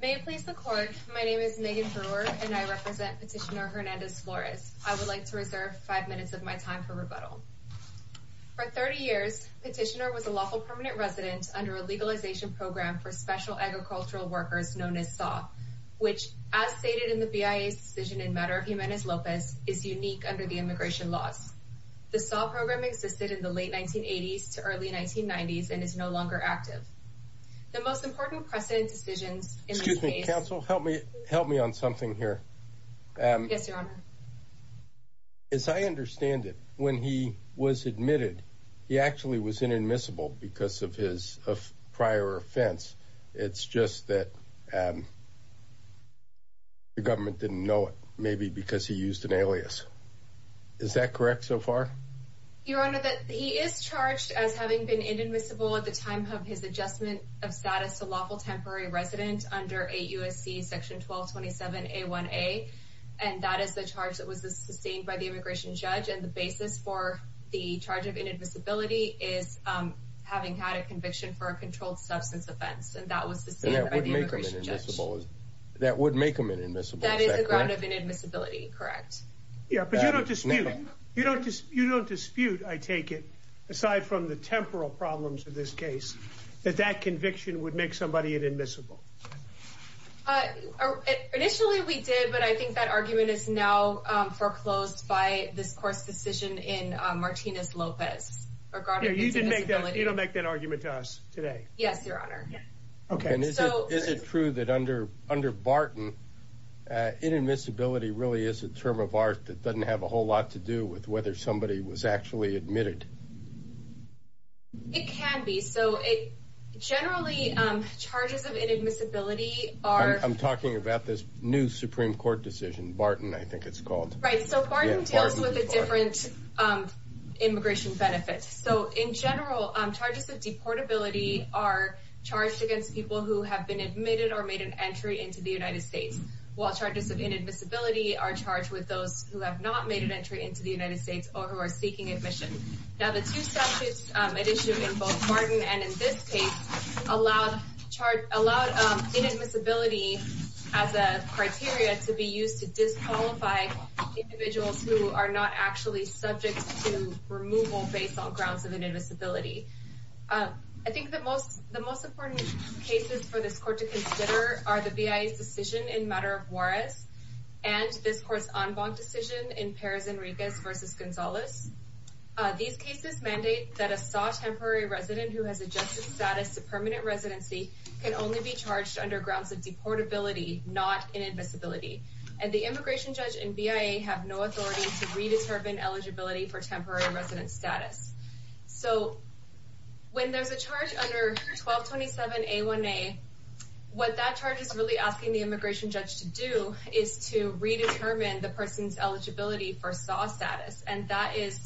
May it please the Court, my name is Megan Brewer and I represent Petitioner Hernandez Flores. I would like to reserve five minutes of my time for rebuttal. For 30 years, Petitioner was a lawful permanent resident under a legalization program for special agricultural workers known as SAW, which, as stated in the BIA's decision in matter of Jimenez Lopez, is unique under the immigration laws. The SAW program existed in the late 1980s to early 1990s and is no longer active. The most important precedent decisions in this case... Excuse me, counsel, help me on something here. Yes, Your Honor. As I understand it, when he was admitted, he actually was inadmissible because of his prior offense. It's just that the government didn't know it, maybe because he used an alias. Is that correct so far? Your Honor, he is charged as having been inadmissible at the time of his adjustment of status to lawful temporary resident under 8 U.S.C. section 1227A1A. And that is the charge that was sustained by the immigration judge. And the basis for the charge of inadmissibility is having had a conviction for a controlled substance offense. And that was sustained by the immigration judge. That would make him inadmissible, is that correct? That is the ground of inadmissibility, correct. But you don't dispute, I take it, aside from the temporal problems of this case, that that conviction would make somebody inadmissible. Initially we did, but I think that argument is now foreclosed by this court's decision in Martinez-Lopez regarding inadmissibility. You don't make that argument to us today. Yes, Your Honor. Is it true that under Barton, inadmissibility really is a term of art that doesn't have a whole lot to do with whether somebody was actually admitted? It can be. Generally, charges of inadmissibility are... I'm talking about this new Supreme Court decision. Barton, I think it's called. Right, so Barton deals with a different immigration benefit. In general, charges of deportability are charged against people who have been admitted or made an entry into the United States. While charges of inadmissibility are charged with those who have not made an entry into the United States or who are seeking admission. Now, the two statutes at issue in both Barton and in this case allowed inadmissibility as a criteria to be used to disqualify individuals who are not actually subject to removal based on grounds of inadmissibility. I think the most important cases for this court to consider are the BIA's decision in Matter of Juarez and this court's en banc decision in Perez Enriquez v. Gonzalez. These cases mandate that a SAW temporary resident who has adjusted status to permanent residency can only be charged under grounds of deportability, not inadmissibility. And the immigration judge and BIA have no authority to redetermine eligibility for temporary resident status. So, when there's a charge under 1227A1A, what that charge is really asking the immigration judge to do is to redetermine the person's eligibility for SAW status. And that is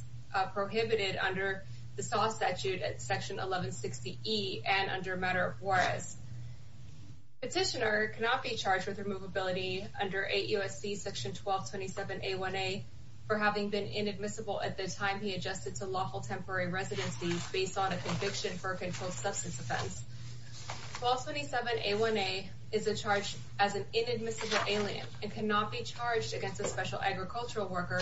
prohibited under the SAW statute at section 1160E and under Matter of Juarez. Petitioner cannot be charged with removability under 8 U.S.C. section 1227A1A for having been inadmissible at the time he adjusted to lawful temporary residency based on a conviction for a controlled substance offense. 1227A1A is charged as an inadmissible alien and cannot be charged against a special agricultural worker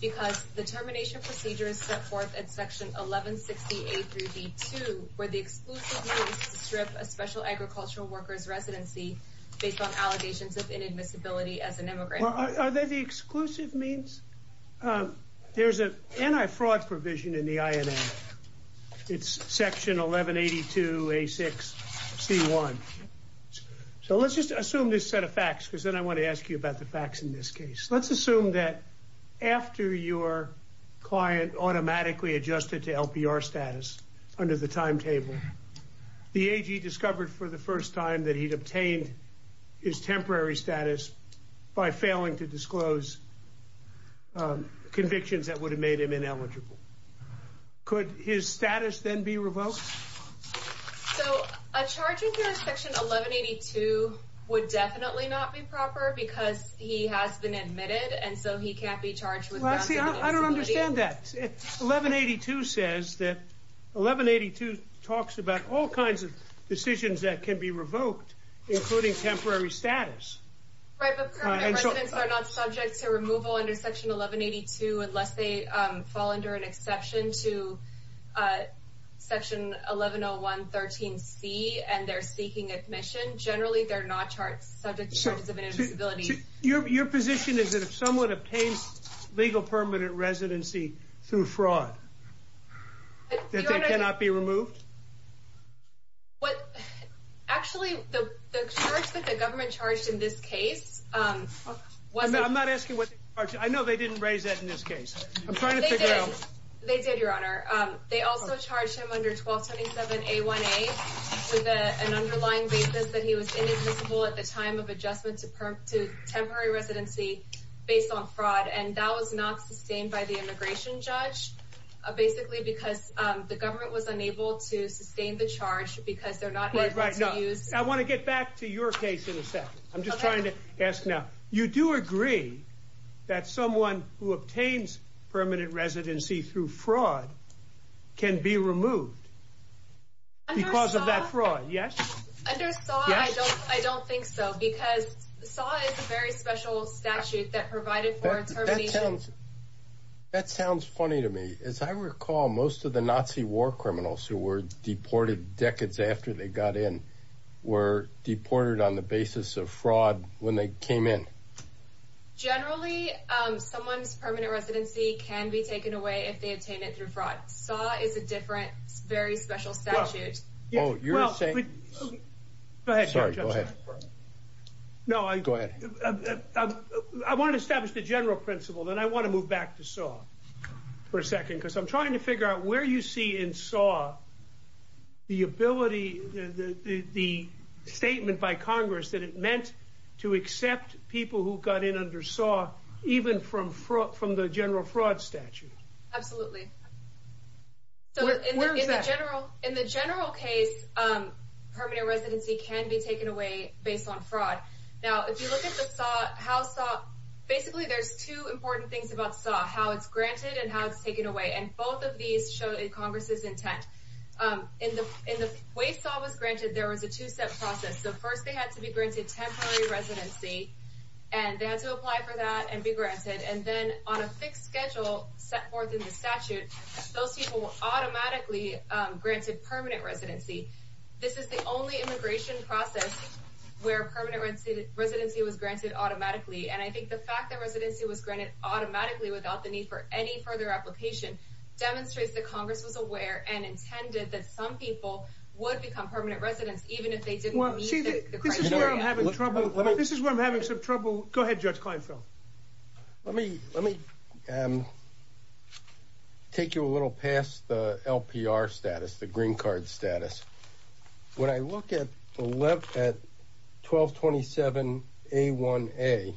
because the termination procedure is set forth at section 1160A-B2 where the exclusive means to strip a special agricultural worker's residency based on allegations of inadmissibility as an immigrant. Are they the exclusive means? There's an anti-fraud provision in the INA. It's section 1182A6C1. So, let's just assume this set of facts because then I want to ask you about the facts in this case. Let's assume that after your client automatically adjusted to LPR status under the timetable, the AG discovered for the first time that he'd obtained his temporary status by failing to disclose convictions that would have made him ineligible. Could his status then be revoked? So, a charge under section 1182 would definitely not be proper because he has been admitted and so he can't be charged with inadmissibility. I don't understand that. 1182 says that 1182 talks about all kinds of decisions that can be revoked including temporary status. Right, but permanent residents are not subject to removal under section 1182 unless they fall under an exception to section 1101-13C and they're seeking admission. Generally, they're not subject to charges of inadmissibility. So, your position is that if someone obtains legal permanent residency through fraud that they cannot be removed? Actually, the charge that the government charged in this case was... I'm not asking what they charged. I know they didn't raise that in this case. I'm trying to figure out... They did, Your Honor. They also charged him under 1227-A1A with an underlying basis that he was inadmissible at the time of adjustment to temporary residency based on fraud. And that was not sustained by the immigration judge basically because the government was unable to sustain the charge because they're not able to use... I want to get back to your case in a second. I'm just trying to ask now. You do agree that someone who obtains permanent residency through fraud can be removed because of that fraud, yes? Under SAW, I don't think so because SAW is a very special statute that provided for termination... That sounds funny to me. As I recall, most of the Nazi war criminals who were deported decades after they got in were deported on the basis of fraud when they came in. Generally, someone's permanent residency can be taken away if they obtain it through fraud. SAW is a different, very special statute. Oh, you're saying... Sorry, go ahead. No, I... Go ahead. I want to establish the general principle, then I want to move back to SAW for a second because I'm trying to figure out where you see in SAW the ability, the statement by Congress that it meant to accept people who got in under SAW even from the general fraud statute. Absolutely. Where is that? In the general case, permanent residency can be taken away based on fraud. Now, if you look at the SAW, basically there's two important things about SAW, how it's granted and how it's taken away, and both of these show Congress' intent. In the way SAW was granted, there was a two-step process. First, they had to be granted temporary residency, and they had to apply for that and be granted, and then on a fixed schedule set forth in the statute, those people were automatically granted permanent residency. This is the only immigration process where permanent residency was granted automatically, and I think the fact that residency was granted automatically without the need for any further application demonstrates that Congress was aware and intended that some people would become permanent residents even if they didn't meet the criteria. This is where I'm having some trouble. Go ahead, Judge Kleinfeld. Let me take you a little past the LPR status, the green card status. When I look at 1227A1A,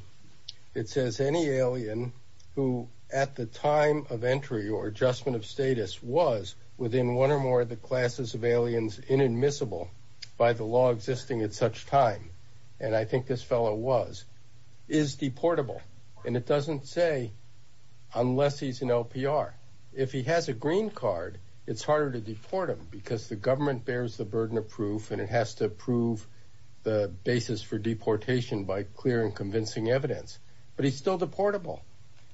it says any alien who at the time of entry or adjustment of status was within one or more of the classes of aliens inadmissible by the law existing at such time, and I think this fellow was, is deportable, and it doesn't say unless he's an LPR. If he has a green card, it's harder to deport him because the government bears the burden of proof, and it has to prove the basis for deportation by clear and convincing evidence, but he's still deportable,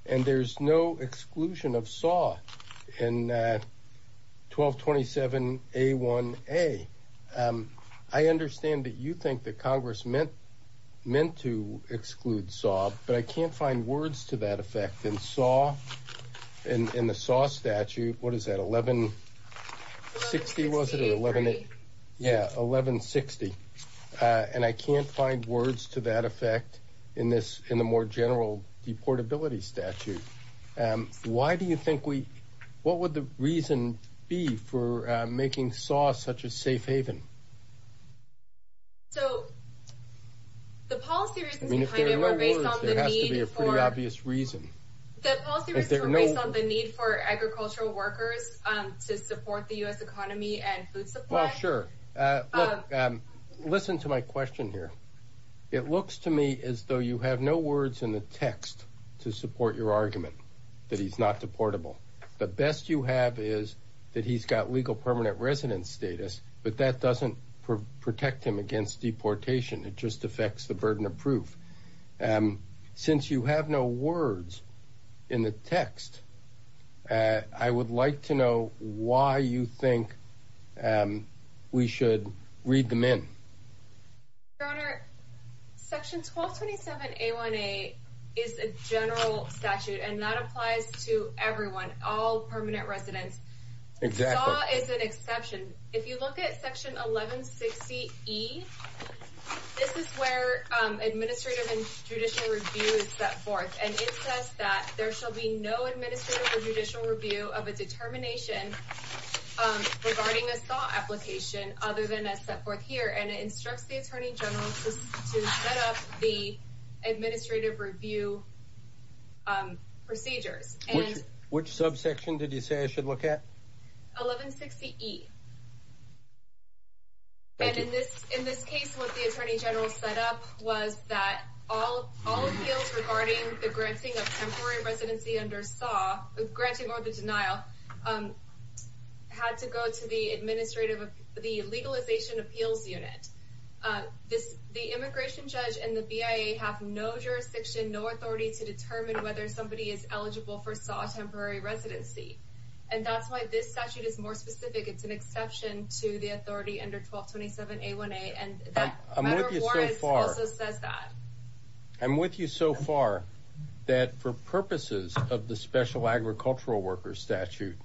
and there's no exclusion of SAW in 1227A1A. I understand that you think that Congress meant to exclude SAW, but I can't find words to that effect in the SAW statute. What is that, 1160, was it? Yeah, 1160, and I can't find words to that effect in the more general deportability statute. Why do you think we, what would the reason be for making SAW such a safe haven? So, the policy reasons behind it were based on the need for agricultural workers to support the U.S. economy and food supply. Listen to my question here. It looks to me as though you have no words in the text to support your argument that he's not deportable. The best you have is that he's got legal permanent residence status, but that doesn't protect him against deportation. It just affects the burden of proof. Since you have no words in the text, I would like to know why you think we should read them in. Your Honor, section 1227A1A is a general statute, and that applies to everyone, all permanent residents. Exactly. SAW is an exception. If you look at section 1160E, this is where administrative and judicial review is set forth, and it says that there shall be no administrative or judicial review of a determination regarding a SAW application other than as set forth here. And it instructs the Attorney General to set up the administrative review procedures. Which subsection did you say I should look at? 1160E. Thank you. In this case, what the Attorney General set up was that all appeals regarding the granting of temporary residency under SAW, granting or the denial, had to go to the Legalization Appeals Unit. The immigration judge and the BIA have no jurisdiction, no authority to determine whether somebody is eligible for SAW temporary residency. And that's why this statute is more specific. It's an exception to the authority under 1227A1A. I'm with you so far. I'm with you so far that for purposes of the Special Agricultural Workers Statute,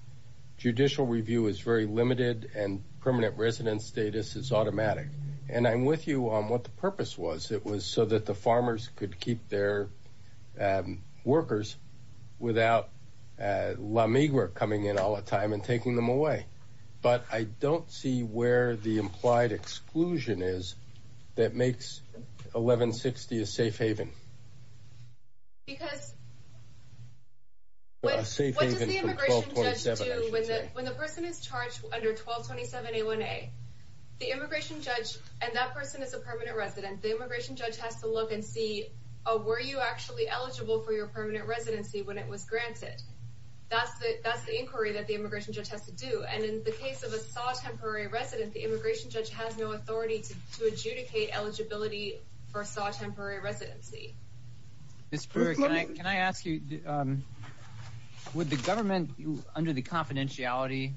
judicial review is very limited and permanent residence status is automatic. And I'm with you on what the purpose was. It was so that the farmers could keep their workers without La Migra coming in all the time and taking them away. But I don't see where the implied exclusion is that makes 1160 a safe haven. Because what does the immigration judge do when the person is charged under 1227A1A? The immigration judge, and that person is a permanent resident, the immigration judge has to look and see, were you actually eligible for your permanent residency when it was granted? That's the inquiry that the immigration judge has to do. And in the case of a SAW temporary resident, the immigration judge has no authority to adjudicate eligibility for SAW temporary residency. Ms. Burke, can I ask you, would the government, under the confidentiality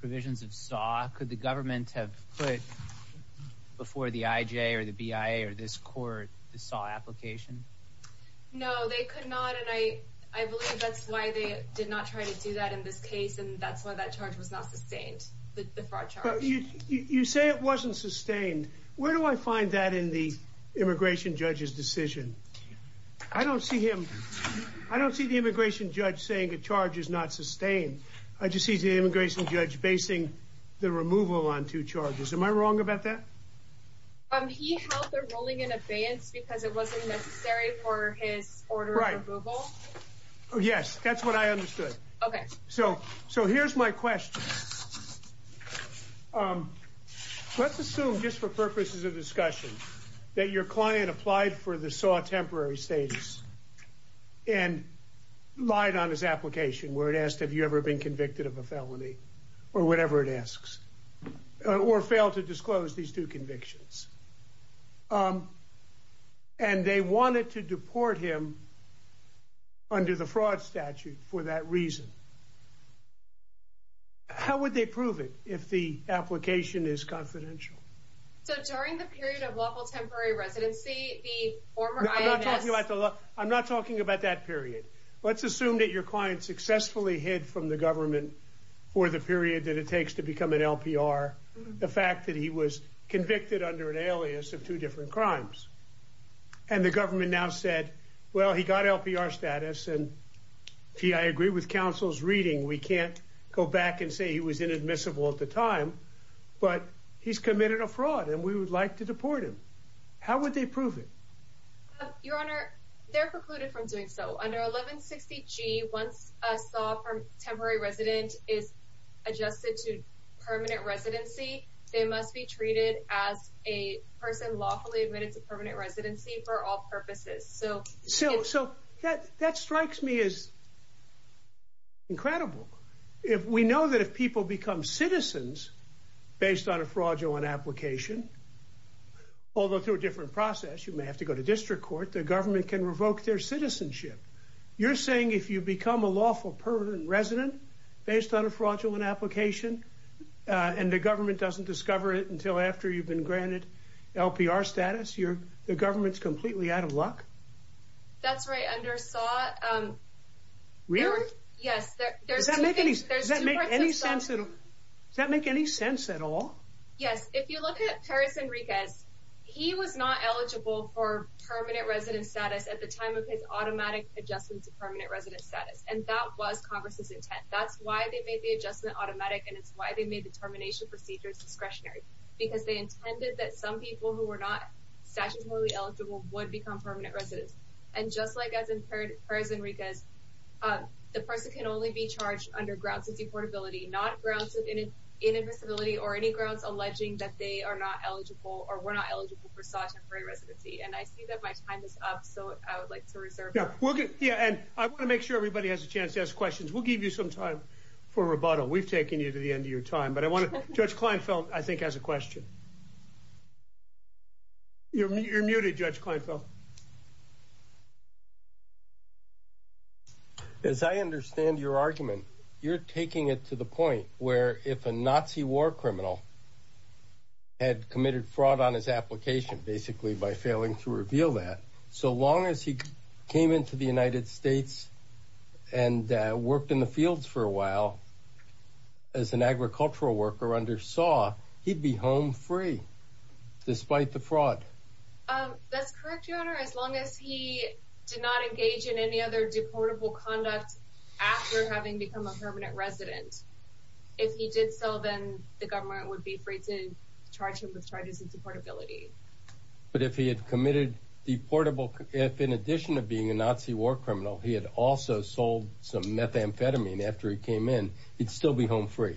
provisions of SAW, could the government have put before the IJ or the BIA or this court the SAW application? No, they could not, and I believe that's why they did not try to do that in this case, and that's why that charge was not sustained, the fraud charge. But you say it wasn't sustained. Where do I find that in the immigration judge's decision? I don't see him, I don't see the immigration judge saying the charge is not sustained. I just see the immigration judge basing the removal on two charges. Am I wrong about that? He held the ruling in abeyance because it wasn't necessary for his order of removal. Yes, that's what I understood. Okay. So here's my question. Let's assume, just for purposes of discussion, that your client applied for the SAW temporary status and lied on his application where it asked, have you ever been convicted of a felony, or whatever it asks, or failed to disclose these two convictions. And they wanted to deport him under the fraud statute for that reason. How would they prove it if the application is confidential? So during the period of lawful temporary residency, the former I.M.S. I'm not talking about that period. Let's assume that your client successfully hid from the government for the period that it takes to become an LPR the fact that he was convicted under an alias of two different crimes. And the government now said, well, he got LPR status. And I agree with counsel's reading. We can't go back and say he was inadmissible at the time, but he's committed a fraud and we would like to deport him. How would they prove it? Your Honor, they're precluded from doing so. Under 1160G, once a SAW temporary resident is adjusted to permanent residency, they must be treated as a person lawfully admitted to permanent residency for all purposes. So that strikes me as incredible. We know that if people become citizens based on a fraudulent application, although through a different process, you may have to go to district court, the government can revoke their citizenship. You're saying if you become a lawful permanent resident based on a fraudulent application and the government doesn't discover it until after you've been granted LPR status, the government's completely out of luck? That's right. Really? Yes. Does that make any sense at all? Yes. If you look at Perez Enriquez, he was not eligible for permanent resident status at the time of his automatic adjustment to permanent resident status. And that was Congress's intent. That's why they made the adjustment automatic and it's why they made the termination procedures discretionary. Because they intended that some people who were not statutorily eligible would become permanent residents. And just like as in Perez Enriquez, the person can only be charged under grounds of deportability, not grounds of inadmissibility or any grounds alleging that they are not eligible or were not eligible for statutory residency. And I see that my time is up, so I would like to reserve it. Yeah. And I want to make sure everybody has a chance to ask questions. We'll give you some time for rebuttal. We've taken you to the end of your time. But Judge Kleinfeld, I think, has a question. You're muted, Judge Kleinfeld. Judge Kleinfeld. As I understand your argument, you're taking it to the point where if a Nazi war criminal had committed fraud on his application, basically by failing to reveal that, so long as he came into the United States and worked in the fields for a while as an agricultural worker under SAW, he'd be home free despite the fraud. That's correct, Your Honor. As long as he did not engage in any other deportable conduct after having become a permanent resident. If he did so, then the government would be free to charge him with charges of deportability. But if he had committed deportable, if in addition of being a Nazi war criminal, he had also sold some methamphetamine after he came in, he'd still be home free.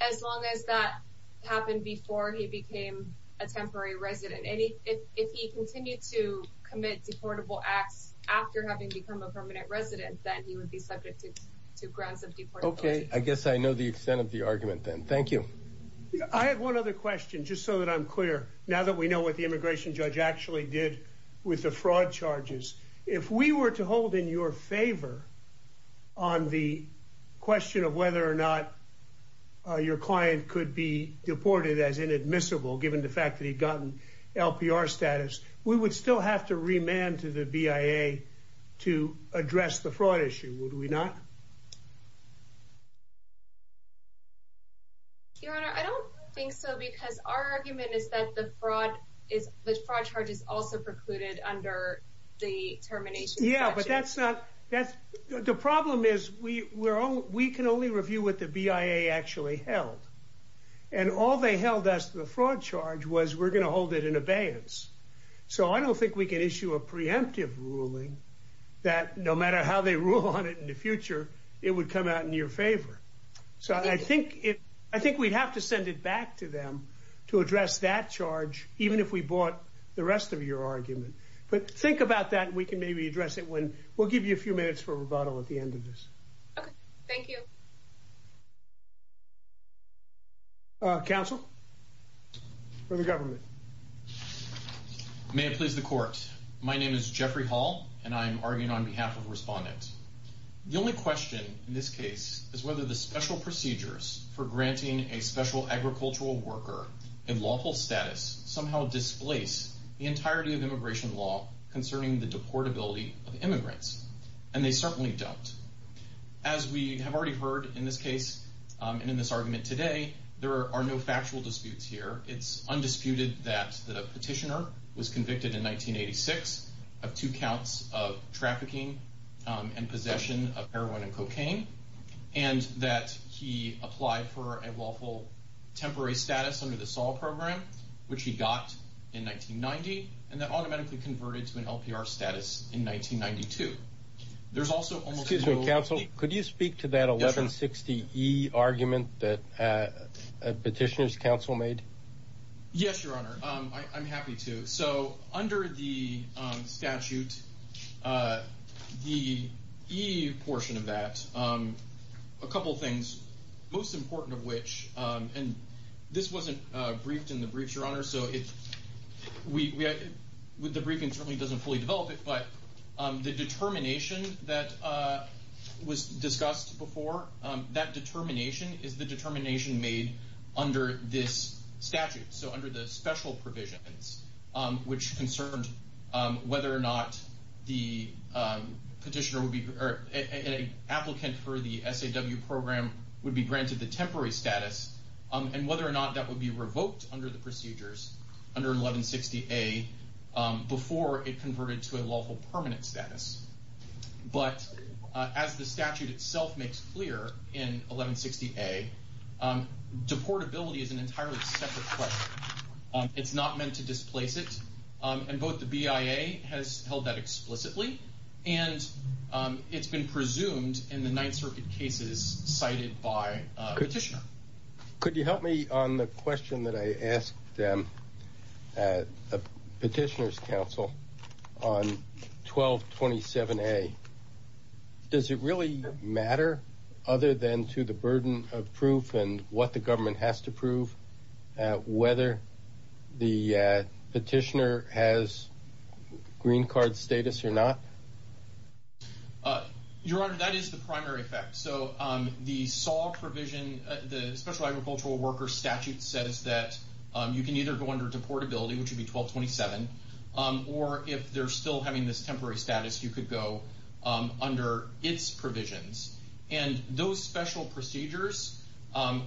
As long as that happened before he became a temporary resident. And if he continued to commit deportable acts after having become a permanent resident, then he would be subject to grounds of deportability. Okay, I guess I know the extent of the argument then. Thank you. I have one other question, just so that I'm clear, now that we know what the immigration judge actually did with the fraud charges. If we were to hold in your favor on the question of whether or not your client could be deported as inadmissible, given the fact that he'd gotten LPR status, we would still have to remand to the BIA to address the fraud issue, would we not? Your Honor, I don't think so, because our argument is that the fraud charges also precluded under the termination statute. Yeah, but that's not, the problem is we can only review what the BIA actually held. And all they held as to the fraud charge was we're going to hold it in abeyance. So I don't think we can issue a preemptive ruling that no matter how they rule on it in the future, it would come out in your favor. So I think we'd have to send it back to them to address that charge, even if we bought the rest of your argument. But think about that, and we can maybe address it when, we'll give you a few minutes for rebuttal at the end of this. Okay, thank you. Counsel, for the government. May it please the court, my name is Jeffrey Hall, and I'm arguing on behalf of a respondent. The only question in this case is whether the special procedures for granting a special agricultural worker a lawful status somehow displace the entirety of immigration law concerning the deportability of immigrants. And they certainly don't. As we have already heard in this case, and in this argument today, there are no factual disputes here. It's undisputed that the petitioner was convicted in 1986 of two counts of trafficking and possession of heroin and cocaine. And that he applied for a lawful temporary status under the Sol Program, which he got in 1990, and that automatically converted to an LPR status in 1992. Excuse me, Counsel, could you speak to that 1160E argument that Petitioner's Counsel made? Yes, Your Honor, I'm happy to. So, under the statute, the E portion of that, a couple things, most important of which, and this wasn't briefed in the briefs, Your Honor. The briefing certainly doesn't fully develop it, but the determination that was discussed before, that determination is the determination made under this statute. So under the special provisions, which concerned whether or not the petitioner would be, or an applicant for the SAW program would be granted the temporary status, and whether or not that would be revoked under the procedures, under 1160A, before it converted to a lawful permanent status. But as the statute itself makes clear in 1160A, deportability is an entirely separate question. It's not meant to displace it, and both the BIA has held that explicitly, and it's been presumed in the Ninth Circuit cases cited by Petitioner. Could you help me on the question that I asked Petitioner's Counsel on 1227A? Does it really matter, other than to the burden of proof and what the government has to prove, whether the petitioner has green card status or not? Your Honor, that is the primary effect. So the SAW provision, the Special Agricultural Workers Statute says that you can either go under deportability, which would be 1227, or if they're still having this temporary status, you could go under its provisions. And those special procedures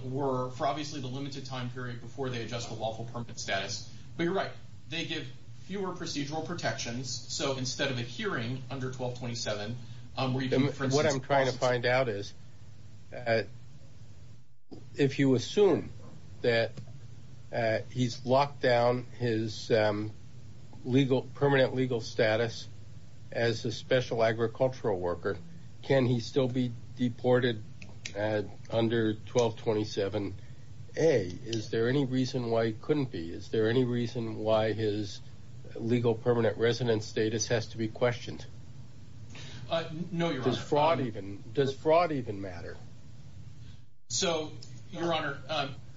were for, obviously, the limited time period before they adjust to lawful permanent status. But you're right, they give fewer procedural protections. So instead of adhering under 1227, where you can, for instance, What I'm trying to find out is, if you assume that he's locked down his legal, permanent legal status as a special agricultural worker, can he still be deported under 1227A? Is there any reason why he couldn't be? Is there any reason why his legal permanent residence status has to be questioned? No, Your Honor. Does fraud even matter? So, Your Honor,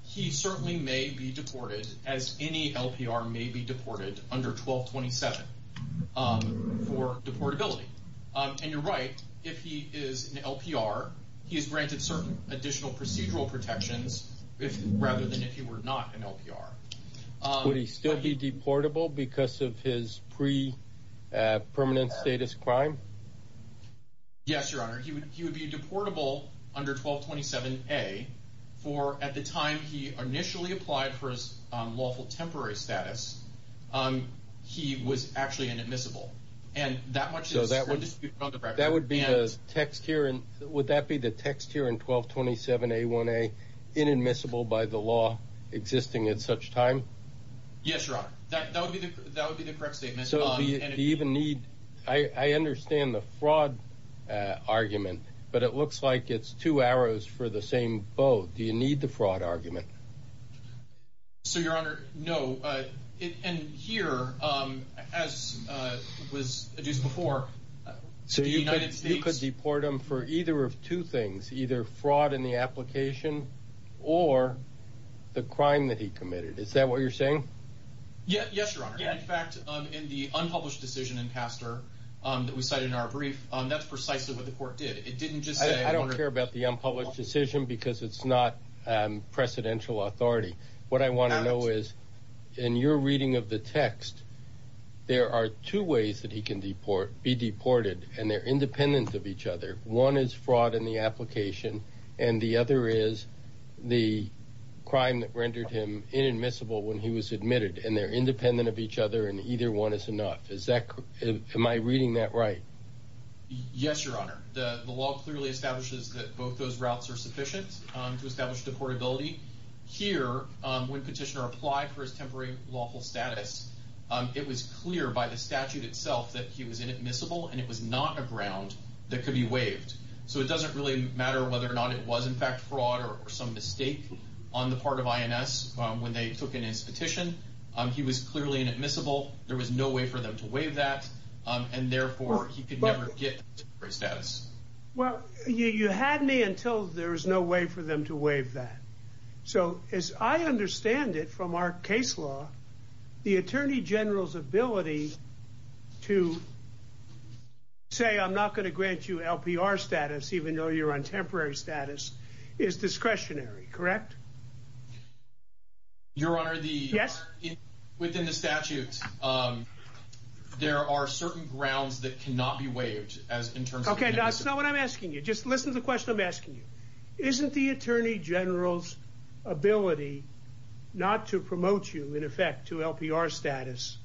he certainly may be deported, as any LPR may be deported, under 1227 for deportability. And you're right, if he is an LPR, he is granted certain additional procedural protections, rather than if he were not an LPR. Would he still be deportable because of his pre-permanent status crime? Yes, Your Honor. He would be deportable under 1227A for, at the time he initially applied for his lawful temporary status, he was actually inadmissible. Would that be the text here in 1227A1A, inadmissible by the law existing at such time? Yes, Your Honor. That would be the correct statement. Do you even need, I understand the fraud argument, but it looks like it's two arrows for the same bow. Do you need the fraud argument? So, Your Honor, no. And here, as was adduced before, the United States... So you could deport him for either of two things, either fraud in the application or the crime that he committed. Is that what you're saying? Yes, Your Honor. In fact, in the unpublished decision in Castor that we cited in our brief, that's precisely what the court did. I don't care about the unpublished decision because it's not presidential authority. What I want to know is, in your reading of the text, there are two ways that he can be deported, and they're independent of each other. One is fraud in the application, and the other is the crime that rendered him inadmissible when he was admitted, and they're independent of each other, and either one is enough. Am I reading that right? Yes, Your Honor. The law clearly establishes that both those routes are sufficient to establish deportability. Here, when Petitioner applied for his temporary lawful status, it was clear by the statute itself that he was inadmissible, and it was not a ground that could be waived. So it doesn't really matter whether or not it was, in fact, fraud or some mistake on the part of INS when they took in his petition. He was clearly inadmissible. There was no way for them to waive that, and therefore he could never get temporary status. Well, you had me until there was no way for them to waive that. So as I understand it from our case law, the Attorney General's ability to say, I'm not going to grant you LPR status even though you're on temporary status, is discretionary, correct? Your Honor, within the statute, there are certain grounds that cannot be waived. Okay, that's not what I'm asking you. Just listen to the question I'm asking you. Isn't the Attorney General's ability not to promote you, in effect, to LPR status,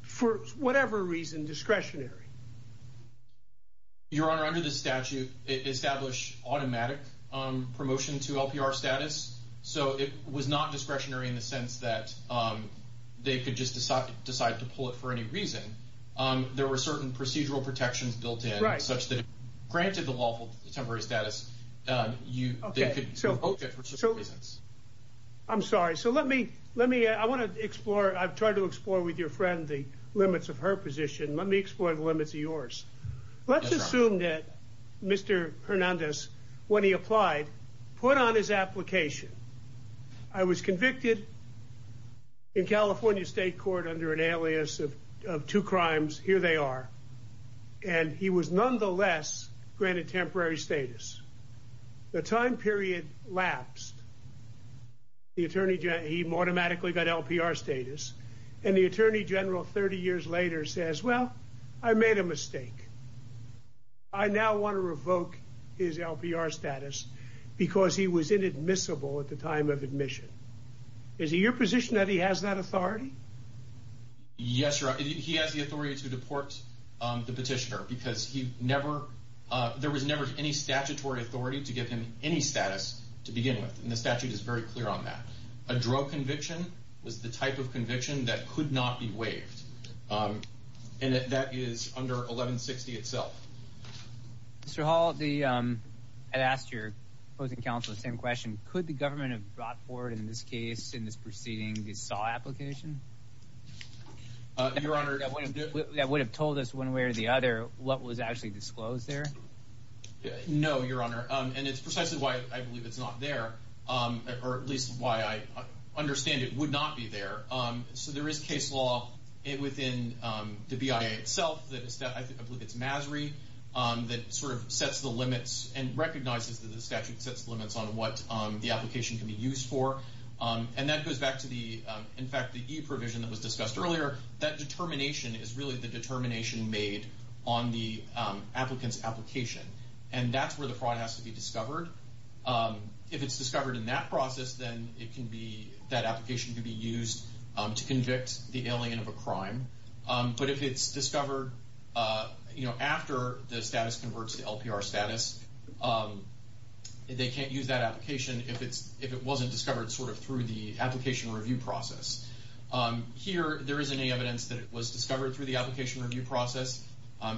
for whatever reason, discretionary? Your Honor, under the statute, it established automatic promotion to LPR status, so it was not discretionary in the sense that they could just decide to pull it for any reason. There were certain procedural protections built in such that if granted the lawful temporary status, they could revoke it for certain reasons. I'm sorry. So let me—I want to explore—I've tried to explore with your friend the limits of her position. Let me explore the limits of yours. Let's assume that Mr. Hernandez, when he applied, put on his application, I was convicted in California State Court under an alias of two crimes. Here they are. And he was nonetheless granted temporary status. The time period lapsed. He automatically got LPR status. And the Attorney General, 30 years later, says, well, I made a mistake. I now want to revoke his LPR status because he was inadmissible at the time of admission. Is it your position that he has that authority? Yes, Your Honor. He has the authority to deport the petitioner because he never— there was never any statutory authority to give him any status to begin with, and the statute is very clear on that. A drug conviction was the type of conviction that could not be waived. And that is under 1160 itself. Mr. Hall, I asked your opposing counsel the same question. Could the government have brought forward in this case, in this proceeding, the SAW application? Your Honor— That would have told us one way or the other what was actually disclosed there? No, Your Honor. And it's precisely why I believe it's not there, or at least why I understand it would not be there. So there is case law within the BIA itself that I believe it's MASRI that sort of sets the limits and recognizes that the statute sets the limits on what the application can be used for. And that goes back to the—in fact, the e-provision that was discussed earlier. That determination is really the determination made on the applicant's application. And that's where the fraud has to be discovered. If it's discovered in that process, then it can be—that application can be used to convict the alien of a crime. But if it's discovered, you know, after the status converts to LPR status, they can't use that application if it wasn't discovered sort of through the application review process. Here, there isn't any evidence that it was discovered through the application review process.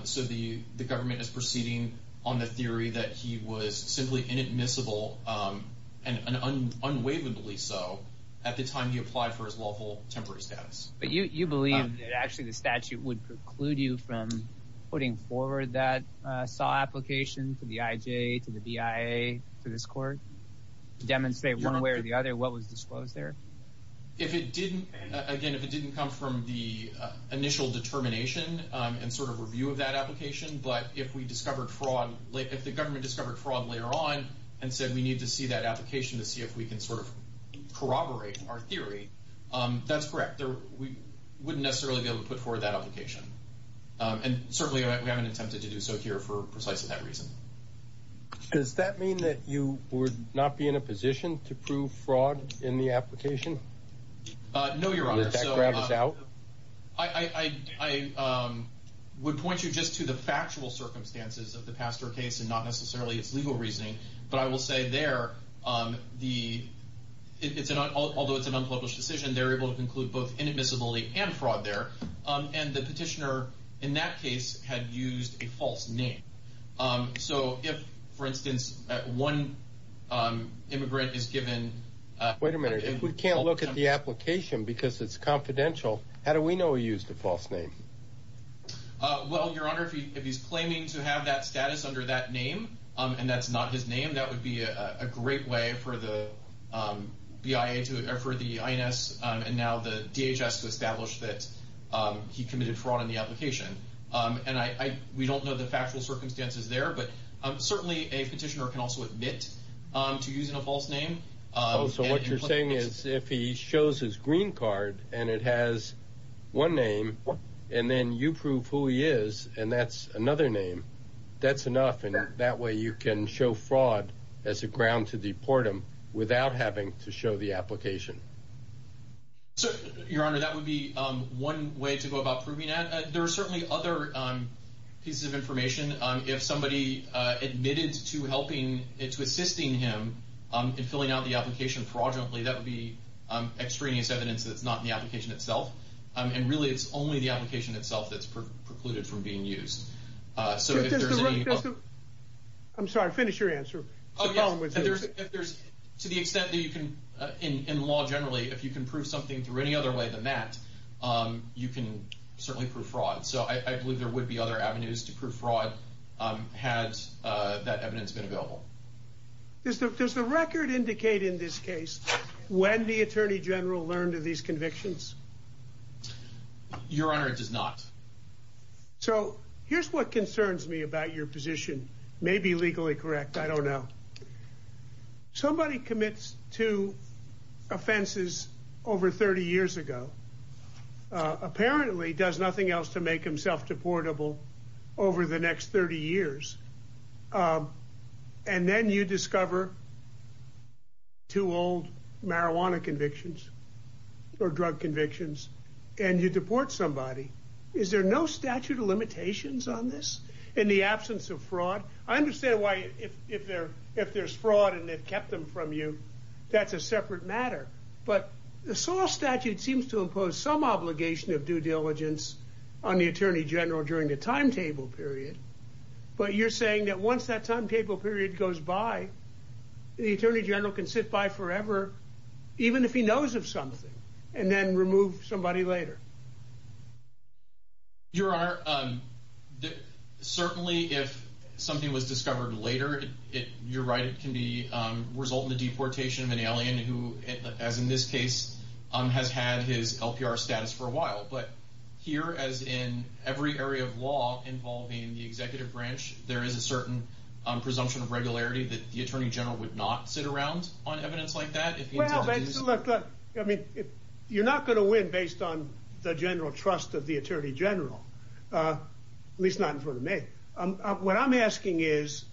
So the government is proceeding on the theory that he was simply inadmissible, and unwaveringly so, at the time he applied for his lawful temporary status. But you believe that actually the statute would preclude you from putting forward that SAW application to the IJ, to the BIA, to this court, to demonstrate one way or the other what was disclosed there? If it didn't—again, if it didn't come from the initial determination and sort of review of that application, but if we discovered fraud—if the government discovered fraud later on and said, we need to see that application to see if we can sort of corroborate our theory, that's correct. We wouldn't necessarily be able to put forward that application. And certainly, we haven't attempted to do so here for precisely that reason. Does that mean that you would not be in a position to prove fraud in the application? No, Your Honor. Did that grab us out? I would point you just to the factual circumstances of the Pastor case and not necessarily its legal reasoning. But I will say there, although it's an unpublished decision, they were able to conclude both inadmissibility and fraud there. And the petitioner in that case had used a false name. So if, for instance, one immigrant is given— Wait a minute. If we can't look at the application because it's confidential, how do we know he used a false name? Well, Your Honor, if he's claiming to have that status under that name and that's not his name, I think that would be a great way for the INS and now the DHS to establish that he committed fraud in the application. And we don't know the factual circumstances there, but certainly a petitioner can also admit to using a false name. So what you're saying is if he shows his green card and it has one name, and then you prove who he is and that's another name, that's enough. And that way you can show fraud as a ground to deport him without having to show the application. Your Honor, that would be one way to go about proving that. There are certainly other pieces of information. If somebody admitted to assisting him in filling out the application fraudulently, that would be extraneous evidence that's not in the application itself. And really it's only the application itself that's precluded from being used. I'm sorry, finish your answer. To the extent that you can, in law generally, if you can prove something through any other way than that, you can certainly prove fraud. So I believe there would be other avenues to prove fraud had that evidence been available. Does the record indicate in this case when the Attorney General learned of these convictions? Your Honor, it does not. So here's what concerns me about your position. It may be legally correct, I don't know. Somebody commits two offenses over 30 years ago, apparently does nothing else to make himself deportable over the next 30 years, and then you discover two old marijuana convictions or drug convictions, and you deport somebody. Is there no statute of limitations on this in the absence of fraud? I understand why if there's fraud and they've kept them from you, that's a separate matter. But the SAW statute seems to impose some obligation of due diligence on the Attorney General during the timetable period. But you're saying that once that timetable period goes by, the Attorney General can sit by forever, even if he knows of something, and then remove somebody later? Your Honor, certainly if something was discovered later, you're right, it can result in the deportation of an alien who, as in this case, has had his LPR status for a while. But here, as in every area of law involving the executive branch, there is a certain presumption of regularity that the Attorney General would not sit around on evidence like that? Well, look, you're not going to win based on the general trust of the Attorney General, at least not in front of me. What I'm asking is,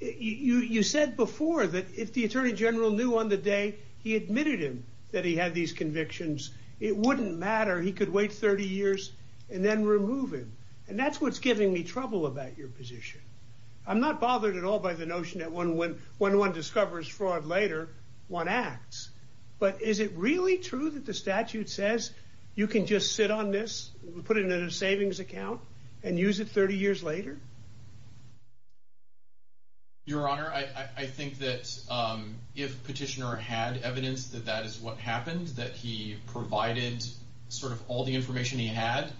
you said before that if the Attorney General knew on the day he admitted him that he had these convictions, it wouldn't matter, he could wait 30 years and then remove him. And that's what's giving me trouble about your position. I'm not bothered at all by the notion that when one discovers fraud later, one acts. But is it really true that the statute says you can just sit on this, put it in a savings account, and use it 30 years later? Your Honor, I think that if Petitioner had evidence that that is what happened, that he provided sort of all the information he had,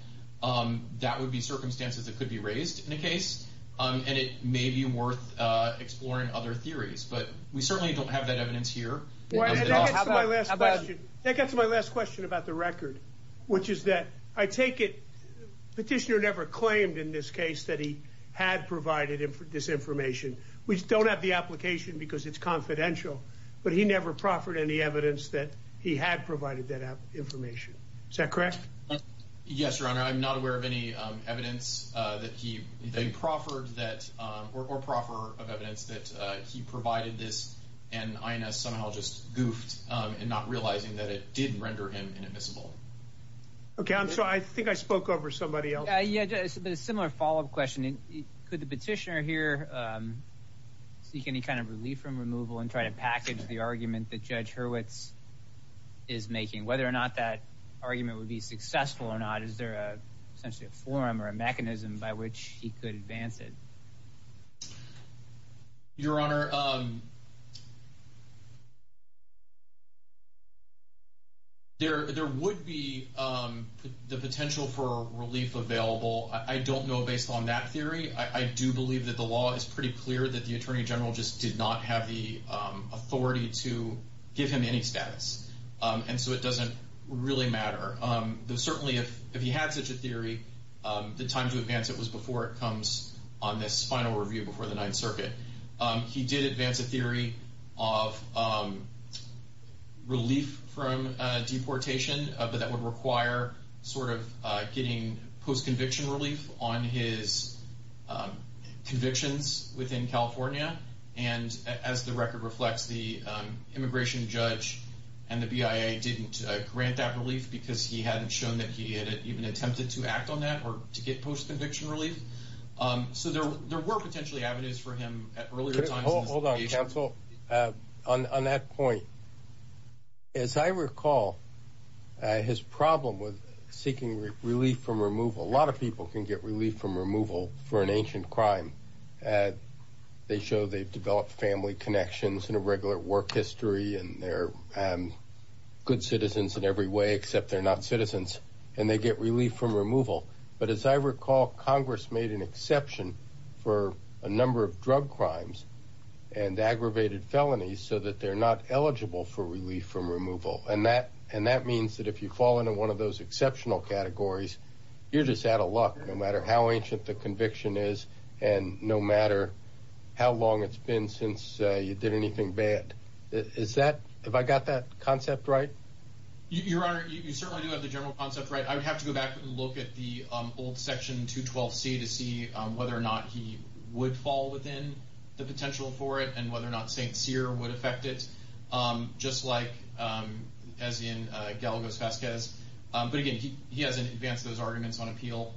that would be circumstances that could be raised in a case. And it may be worth exploring other theories, but we certainly don't have that evidence here. That gets to my last question about the record, which is that I take it Petitioner never claimed in this case that he had provided this information. We don't have the application because it's confidential, but he never proffered any evidence that he had provided that information. Is that correct? Yes, Your Honor, I'm not aware of any evidence that he proffered or proffer of evidence that he provided this, and INS somehow just goofed in not realizing that it did render him inadmissible. Okay, I think I spoke over somebody else. Yeah, just a similar follow-up question. Could the Petitioner here seek any kind of relief from removal and try to package the argument that Judge Hurwitz is making? Whether or not that argument would be successful or not, is there essentially a forum or a mechanism by which he could advance it? Your Honor, there would be the potential for relief available. I don't know based on that theory. I do believe that the law is pretty clear that the Attorney General just did not have the authority to give him any status, and so it doesn't really matter. Certainly, if he had such a theory, the time to advance it was before it comes on this final review before the Ninth Circuit. He did advance a theory of relief from deportation, but that would require sort of getting post-conviction relief on his convictions within California. And as the record reflects, the immigration judge and the BIA didn't grant that relief because he hadn't shown that he had even attempted to act on that or to get post-conviction relief. So there were potentially avenues for him at earlier times in his litigation. Hold on, counsel. On that point, as I recall, his problem with seeking relief from removal, a lot of people can get relief from removal for an ancient crime. They show they've developed family connections and a regular work history, and they're good citizens in every way except they're not citizens, and they get relief from removal. But as I recall, Congress made an exception for a number of drug crimes and aggravated felonies so that they're not eligible for relief from removal. And that means that if you fall into one of those exceptional categories, you're just out of luck no matter how ancient the conviction is and no matter how long it's been since you did anything bad. Is that – have I got that concept right? Your Honor, you certainly do have the general concept right. I would have to go back and look at the old Section 212C to see whether or not he would fall within the potential for it and whether or not St. Cyr would affect it, just like as in Galagos-Vasquez. But, again, he hasn't advanced those arguments on appeal.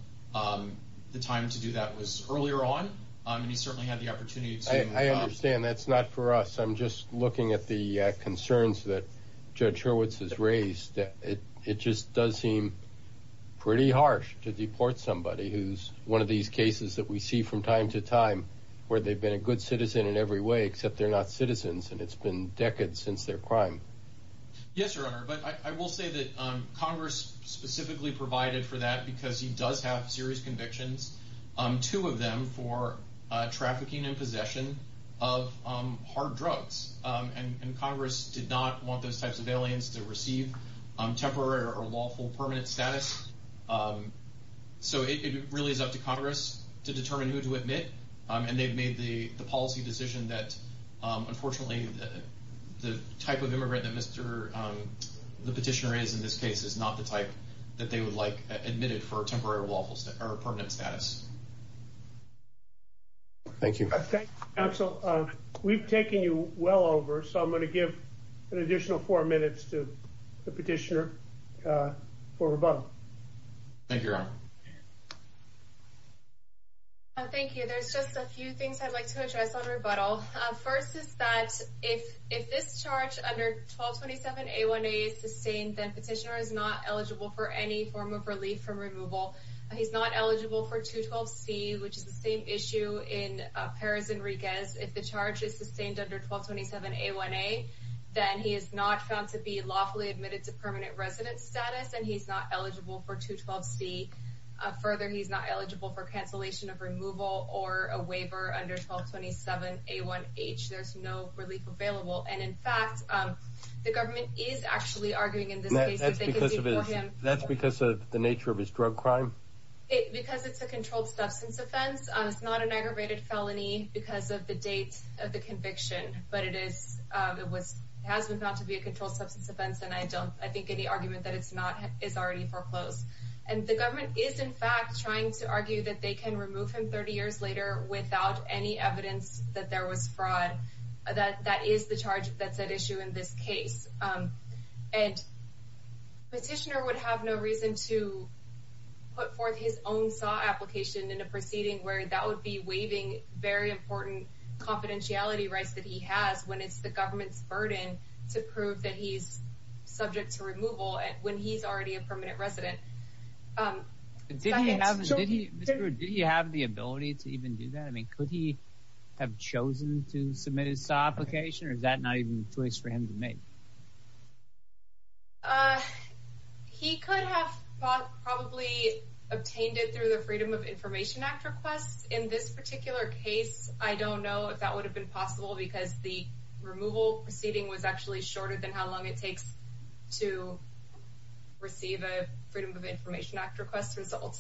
The time to do that was earlier on, and he certainly had the opportunity to – I understand that's not for us. I'm just looking at the concerns that Judge Hurwitz has raised. It just does seem pretty harsh to deport somebody who's one of these cases that we see from time to time where they've been a good citizen in every way except they're not citizens, and it's been decades since their crime. Yes, Your Honor. But I will say that Congress specifically provided for that because he does have serious convictions, two of them for trafficking and possession of hard drugs. And Congress did not want those types of aliens to receive temporary or lawful permanent status. So it really is up to Congress to determine who to admit, and they've made the policy decision that, unfortunately, the type of immigrant that the petitioner is in this case is not the type that they would like admitted for temporary or lawful permanent status. Thank you. Thank you, counsel. We've taken you well over, so I'm going to give an additional four minutes to the petitioner for rebuttal. Thank you, Your Honor. Thank you. There's just a few things I'd like to address on rebuttal. First is that if this charge under 1227A1A is sustained, then petitioner is not eligible for any form of relief from removal. He's not eligible for 212C, which is the same issue in Perez Enriquez. If the charge is sustained under 1227A1A, then he is not found to be lawfully admitted to permanent residence status, and he's not eligible for 212C. Further, he's not eligible for cancellation of removal or a waiver under 1227A1H. There's no relief available. And, in fact, the government is actually arguing in this case that they could do for him. That's because of the nature of his drug crime? Because it's a controlled substance offense. It's not an aggravated felony because of the date of the conviction. But it has been found to be a controlled substance offense, and I think any argument that it's not is already foreclosed. And the government is, in fact, trying to argue that they can remove him 30 years later without any evidence that there was fraud. That is the charge that's at issue in this case. And petitioner would have no reason to put forth his own SAW application in a proceeding where that would be waiving very important confidentiality rights that he has when it's the government's burden to prove that he's subject to removal when he's already a permanent resident. Did he have the ability to even do that? I mean, could he have chosen to submit his SAW application, or is that not even a choice for him to make? He could have probably obtained it through the Freedom of Information Act request. In this particular case, I don't know if that would have been possible because the removal proceeding was actually shorter than how long it takes to receive a Freedom of Information Act request result.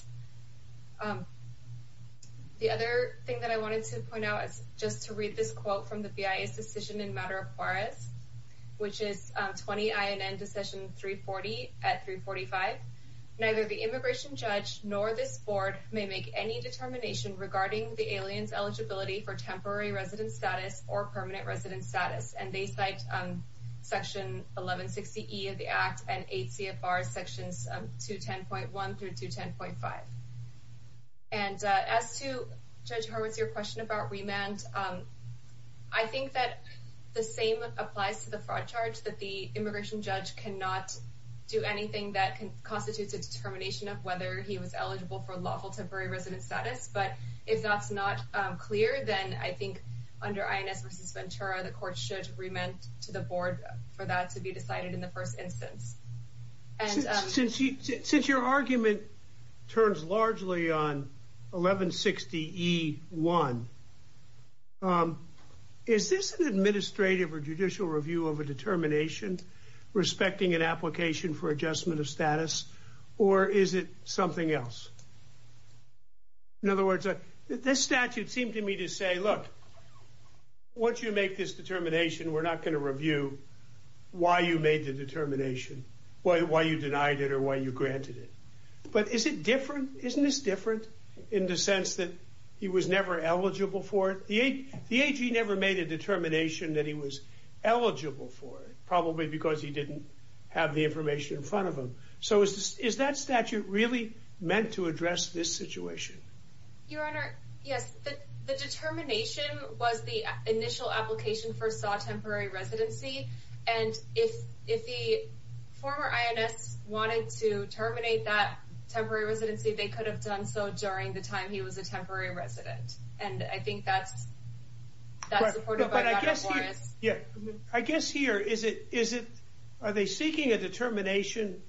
The other thing that I wanted to point out is just to read this quote from the BIA's decision in Maduro-Juarez, which is 20 INN Decision 340 at 345. Neither the immigration judge nor this board may make any determination regarding the alien's eligibility for temporary resident status or permanent resident status. And they cite Section 1160E of the Act and 8 CFR Sections 210.1 through 210.5. And as to Judge Horowitz, your question about remand, I think that the same applies to the fraud charge that the immigration judge cannot do anything that constitutes a determination of whether he was eligible for lawful temporary resident status. But if that's not clear, then I think under INS v. Ventura, the court should remand to the board for that to be decided in the first instance. Since your argument turns largely on 1160E1, is this an administrative or judicial review of a determination respecting an application for adjustment of status, or is it something else? In other words, this statute seemed to me to say, look, once you make this determination, we're not going to review why you made the determination, why you denied it or why you granted it. But isn't this different in the sense that he was never eligible for it? The AG never made a determination that he was eligible for it, probably because he didn't have the information in front of him. So is that statute really meant to address this situation? Your Honor, yes. The determination was the initial application for SAW temporary residency. And if the former INS wanted to terminate that temporary residency, they could have done so during the time he was a temporary resident. And I think that's supported by Judge Horowitz. I guess here, are they seeking a determination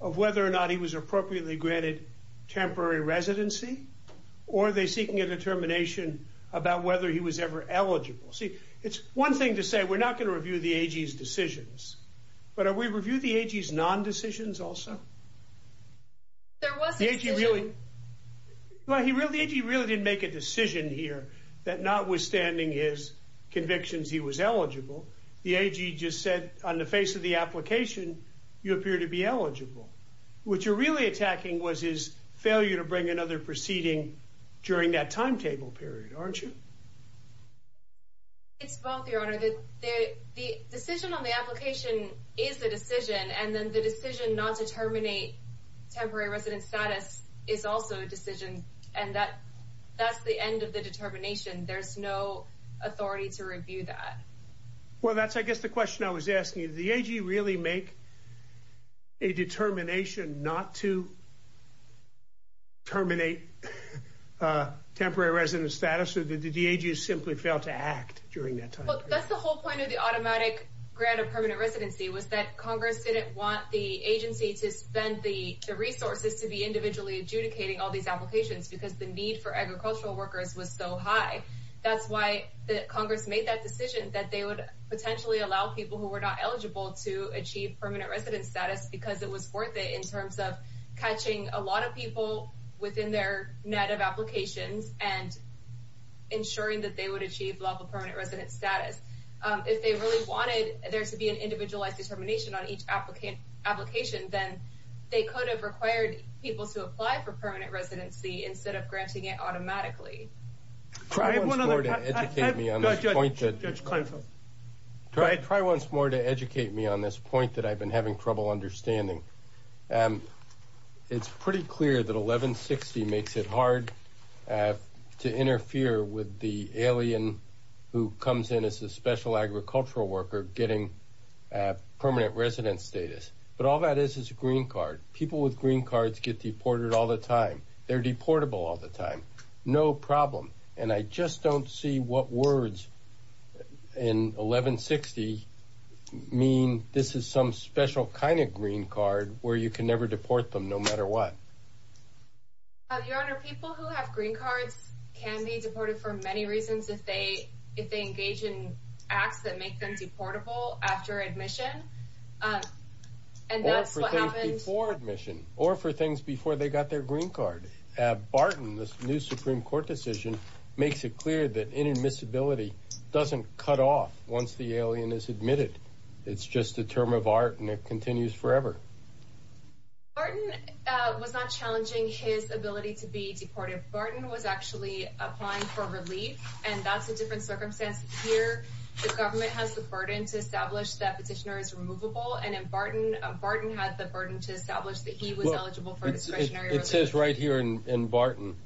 of whether or not he was appropriately granted temporary residency? Or are they seeking a determination about whether he was ever eligible? See, it's one thing to say we're not going to review the AG's decisions, but are we reviewing the AG's non-decisions also? Well, the AG really didn't make a decision here that notwithstanding his convictions, he was eligible. The AG just said on the face of the application, you appear to be eligible. What you're really attacking was his failure to bring another proceeding during that timetable period, aren't you? It's both, Your Honor. The decision on the application is a decision, and then the decision not to terminate temporary resident status is also a decision. And that's the end of the determination. There's no authority to review that. Well, that's, I guess, the question I was asking. Did the AG really make a determination not to terminate temporary resident status, or did the AG simply fail to act during that time period? Look, that's the whole point of the automatic grant of permanent residency, was that Congress didn't want the agency to spend the resources to be individually adjudicating all these applications because the need for agricultural workers was so high. That's why Congress made that decision that they would potentially allow people who were not eligible to achieve permanent resident status because it was worth it in terms of catching a lot of people within their net of applications and ensuring that they would achieve level permanent resident status. If they really wanted there to be an individualized determination on each application, then they could have required people to apply for permanent residency instead of granting it automatically. Try once more to educate me on this point that I've been having trouble understanding. It's pretty clear that 1160 makes it hard to interfere with the alien who comes in as a special agricultural worker getting permanent resident status. But all that is is a green card. People with green cards get deported all the time. They're deportable all the time. No problem. And I just don't see what words in 1160 mean this is some special kind of green card where you can never deport them no matter what. Your Honor, people who have green cards can be deported for many reasons if they engage in acts that make them deportable after admission. Or for things before admission. Or for things before they got their green card. Barton, this new Supreme Court decision, makes it clear that inadmissibility doesn't cut off once the alien is admitted. It's just a term of art and it continues forever. Barton was not challenging his ability to be deported. Barton was actually applying for relief. And that's a different circumstance here. The government has the burden to establish that petitioner is removable. And Barton had the burden to establish that he was eligible for discretionary relief. It says right here in Barton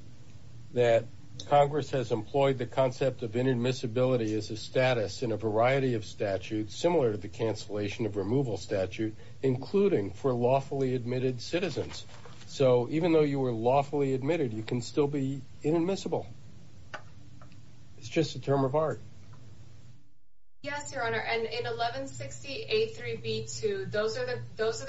that Congress has employed the concept of inadmissibility as a status in a variety of statutes, similar to the cancellation of removal statute, including for lawfully admitted citizens. So even though you were lawfully admitted, you can still be inadmissible. It's just a term of art. Yes, Your Honor. And in 1160A3B2, those are the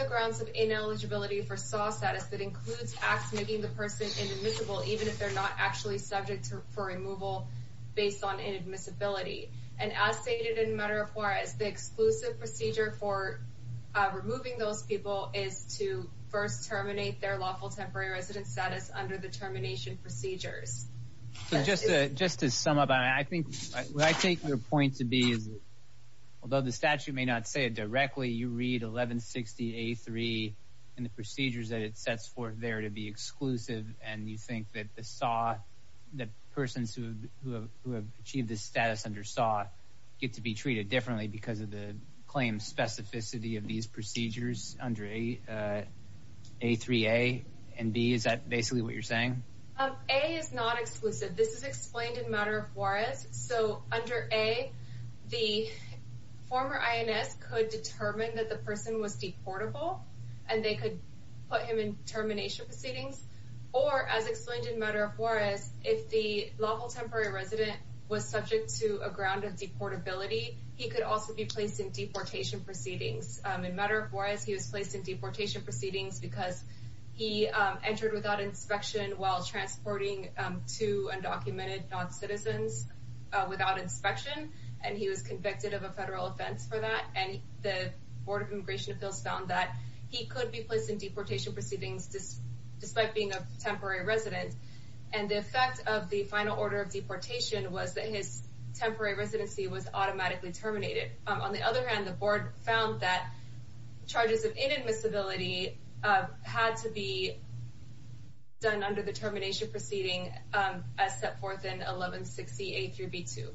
grounds of ineligibility for SAW status that includes acts making the person inadmissible, even if they're not actually subject for removal based on inadmissibility. And as stated in Madera Juarez, the exclusive procedure for removing those people is to first terminate their lawful temporary residence status under the termination procedures. So just to sum up, I think what I take your point to be is although the statute may not say it directly, you read 1160A3 and the procedures that it sets forth there to be exclusive, and you think that the SAW, that persons who have achieved this status under SAW get to be treated differently because of the claim specificity of these procedures under A3A and B. Is that basically what you're saying? A is not exclusive. This is explained in Madera Juarez. So under A, the former INS could determine that the person was deportable, and they could put him in termination proceedings. Or as explained in Madera Juarez, if the lawful temporary resident was subject to a ground of deportability, he could also be placed in deportation proceedings. In Madera Juarez, he was placed in deportation proceedings because he entered without inspection while transporting two undocumented noncitizens without inspection, and he was convicted of a federal offense for that. And the Board of Immigration Appeals found that he could be placed in deportation proceedings despite being a temporary resident. And the effect of the final order of deportation was that his temporary residency was automatically terminated. On the other hand, the board found that charges of inadmissibility had to be done under the termination proceeding as set forth in 1160A through B2.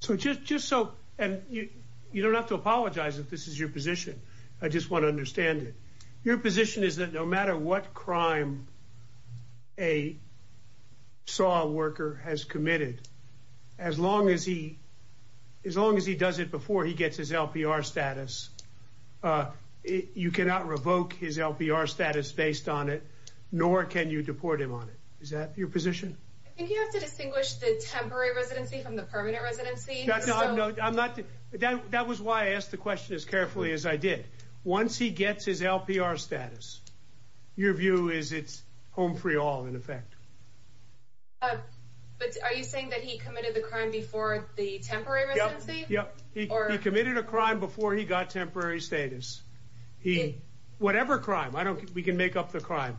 So just so, and you don't have to apologize if this is your position. I just want to understand it. Your position is that no matter what crime a SAW worker has committed, as long as he does it before he gets his LPR status, you cannot revoke his LPR status based on it, nor can you deport him on it. Is that your position? I think you have to distinguish the temporary residency from the permanent residency. That was why I asked the question as carefully as I did. Once he gets his LPR status, your view is it's home free all in effect. But are you saying that he committed the crime before the temporary residency? He committed a crime before he got temporary status. Whatever crime, we can make up the crime.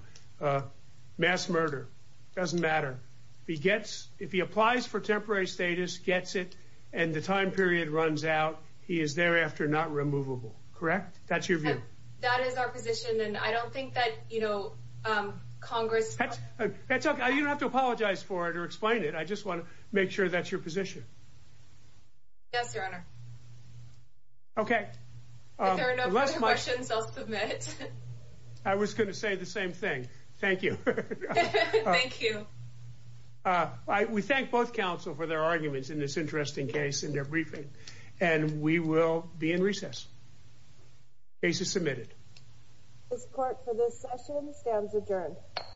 Mass murder, doesn't matter. If he applies for temporary status, gets it, and the time period runs out, he is thereafter not removable. Correct? That's your view. That is our position, and I don't think that Congress You don't have to apologize for it or explain it. I just want to make sure that's your position. Yes, Your Honor. Okay. If there are no further questions, I'll submit. I was going to say the same thing. Thank you. Thank you. We thank both counsel for their arguments in this interesting case and their briefing, and we will be in recess. Case is submitted. This court for this session stands adjourned.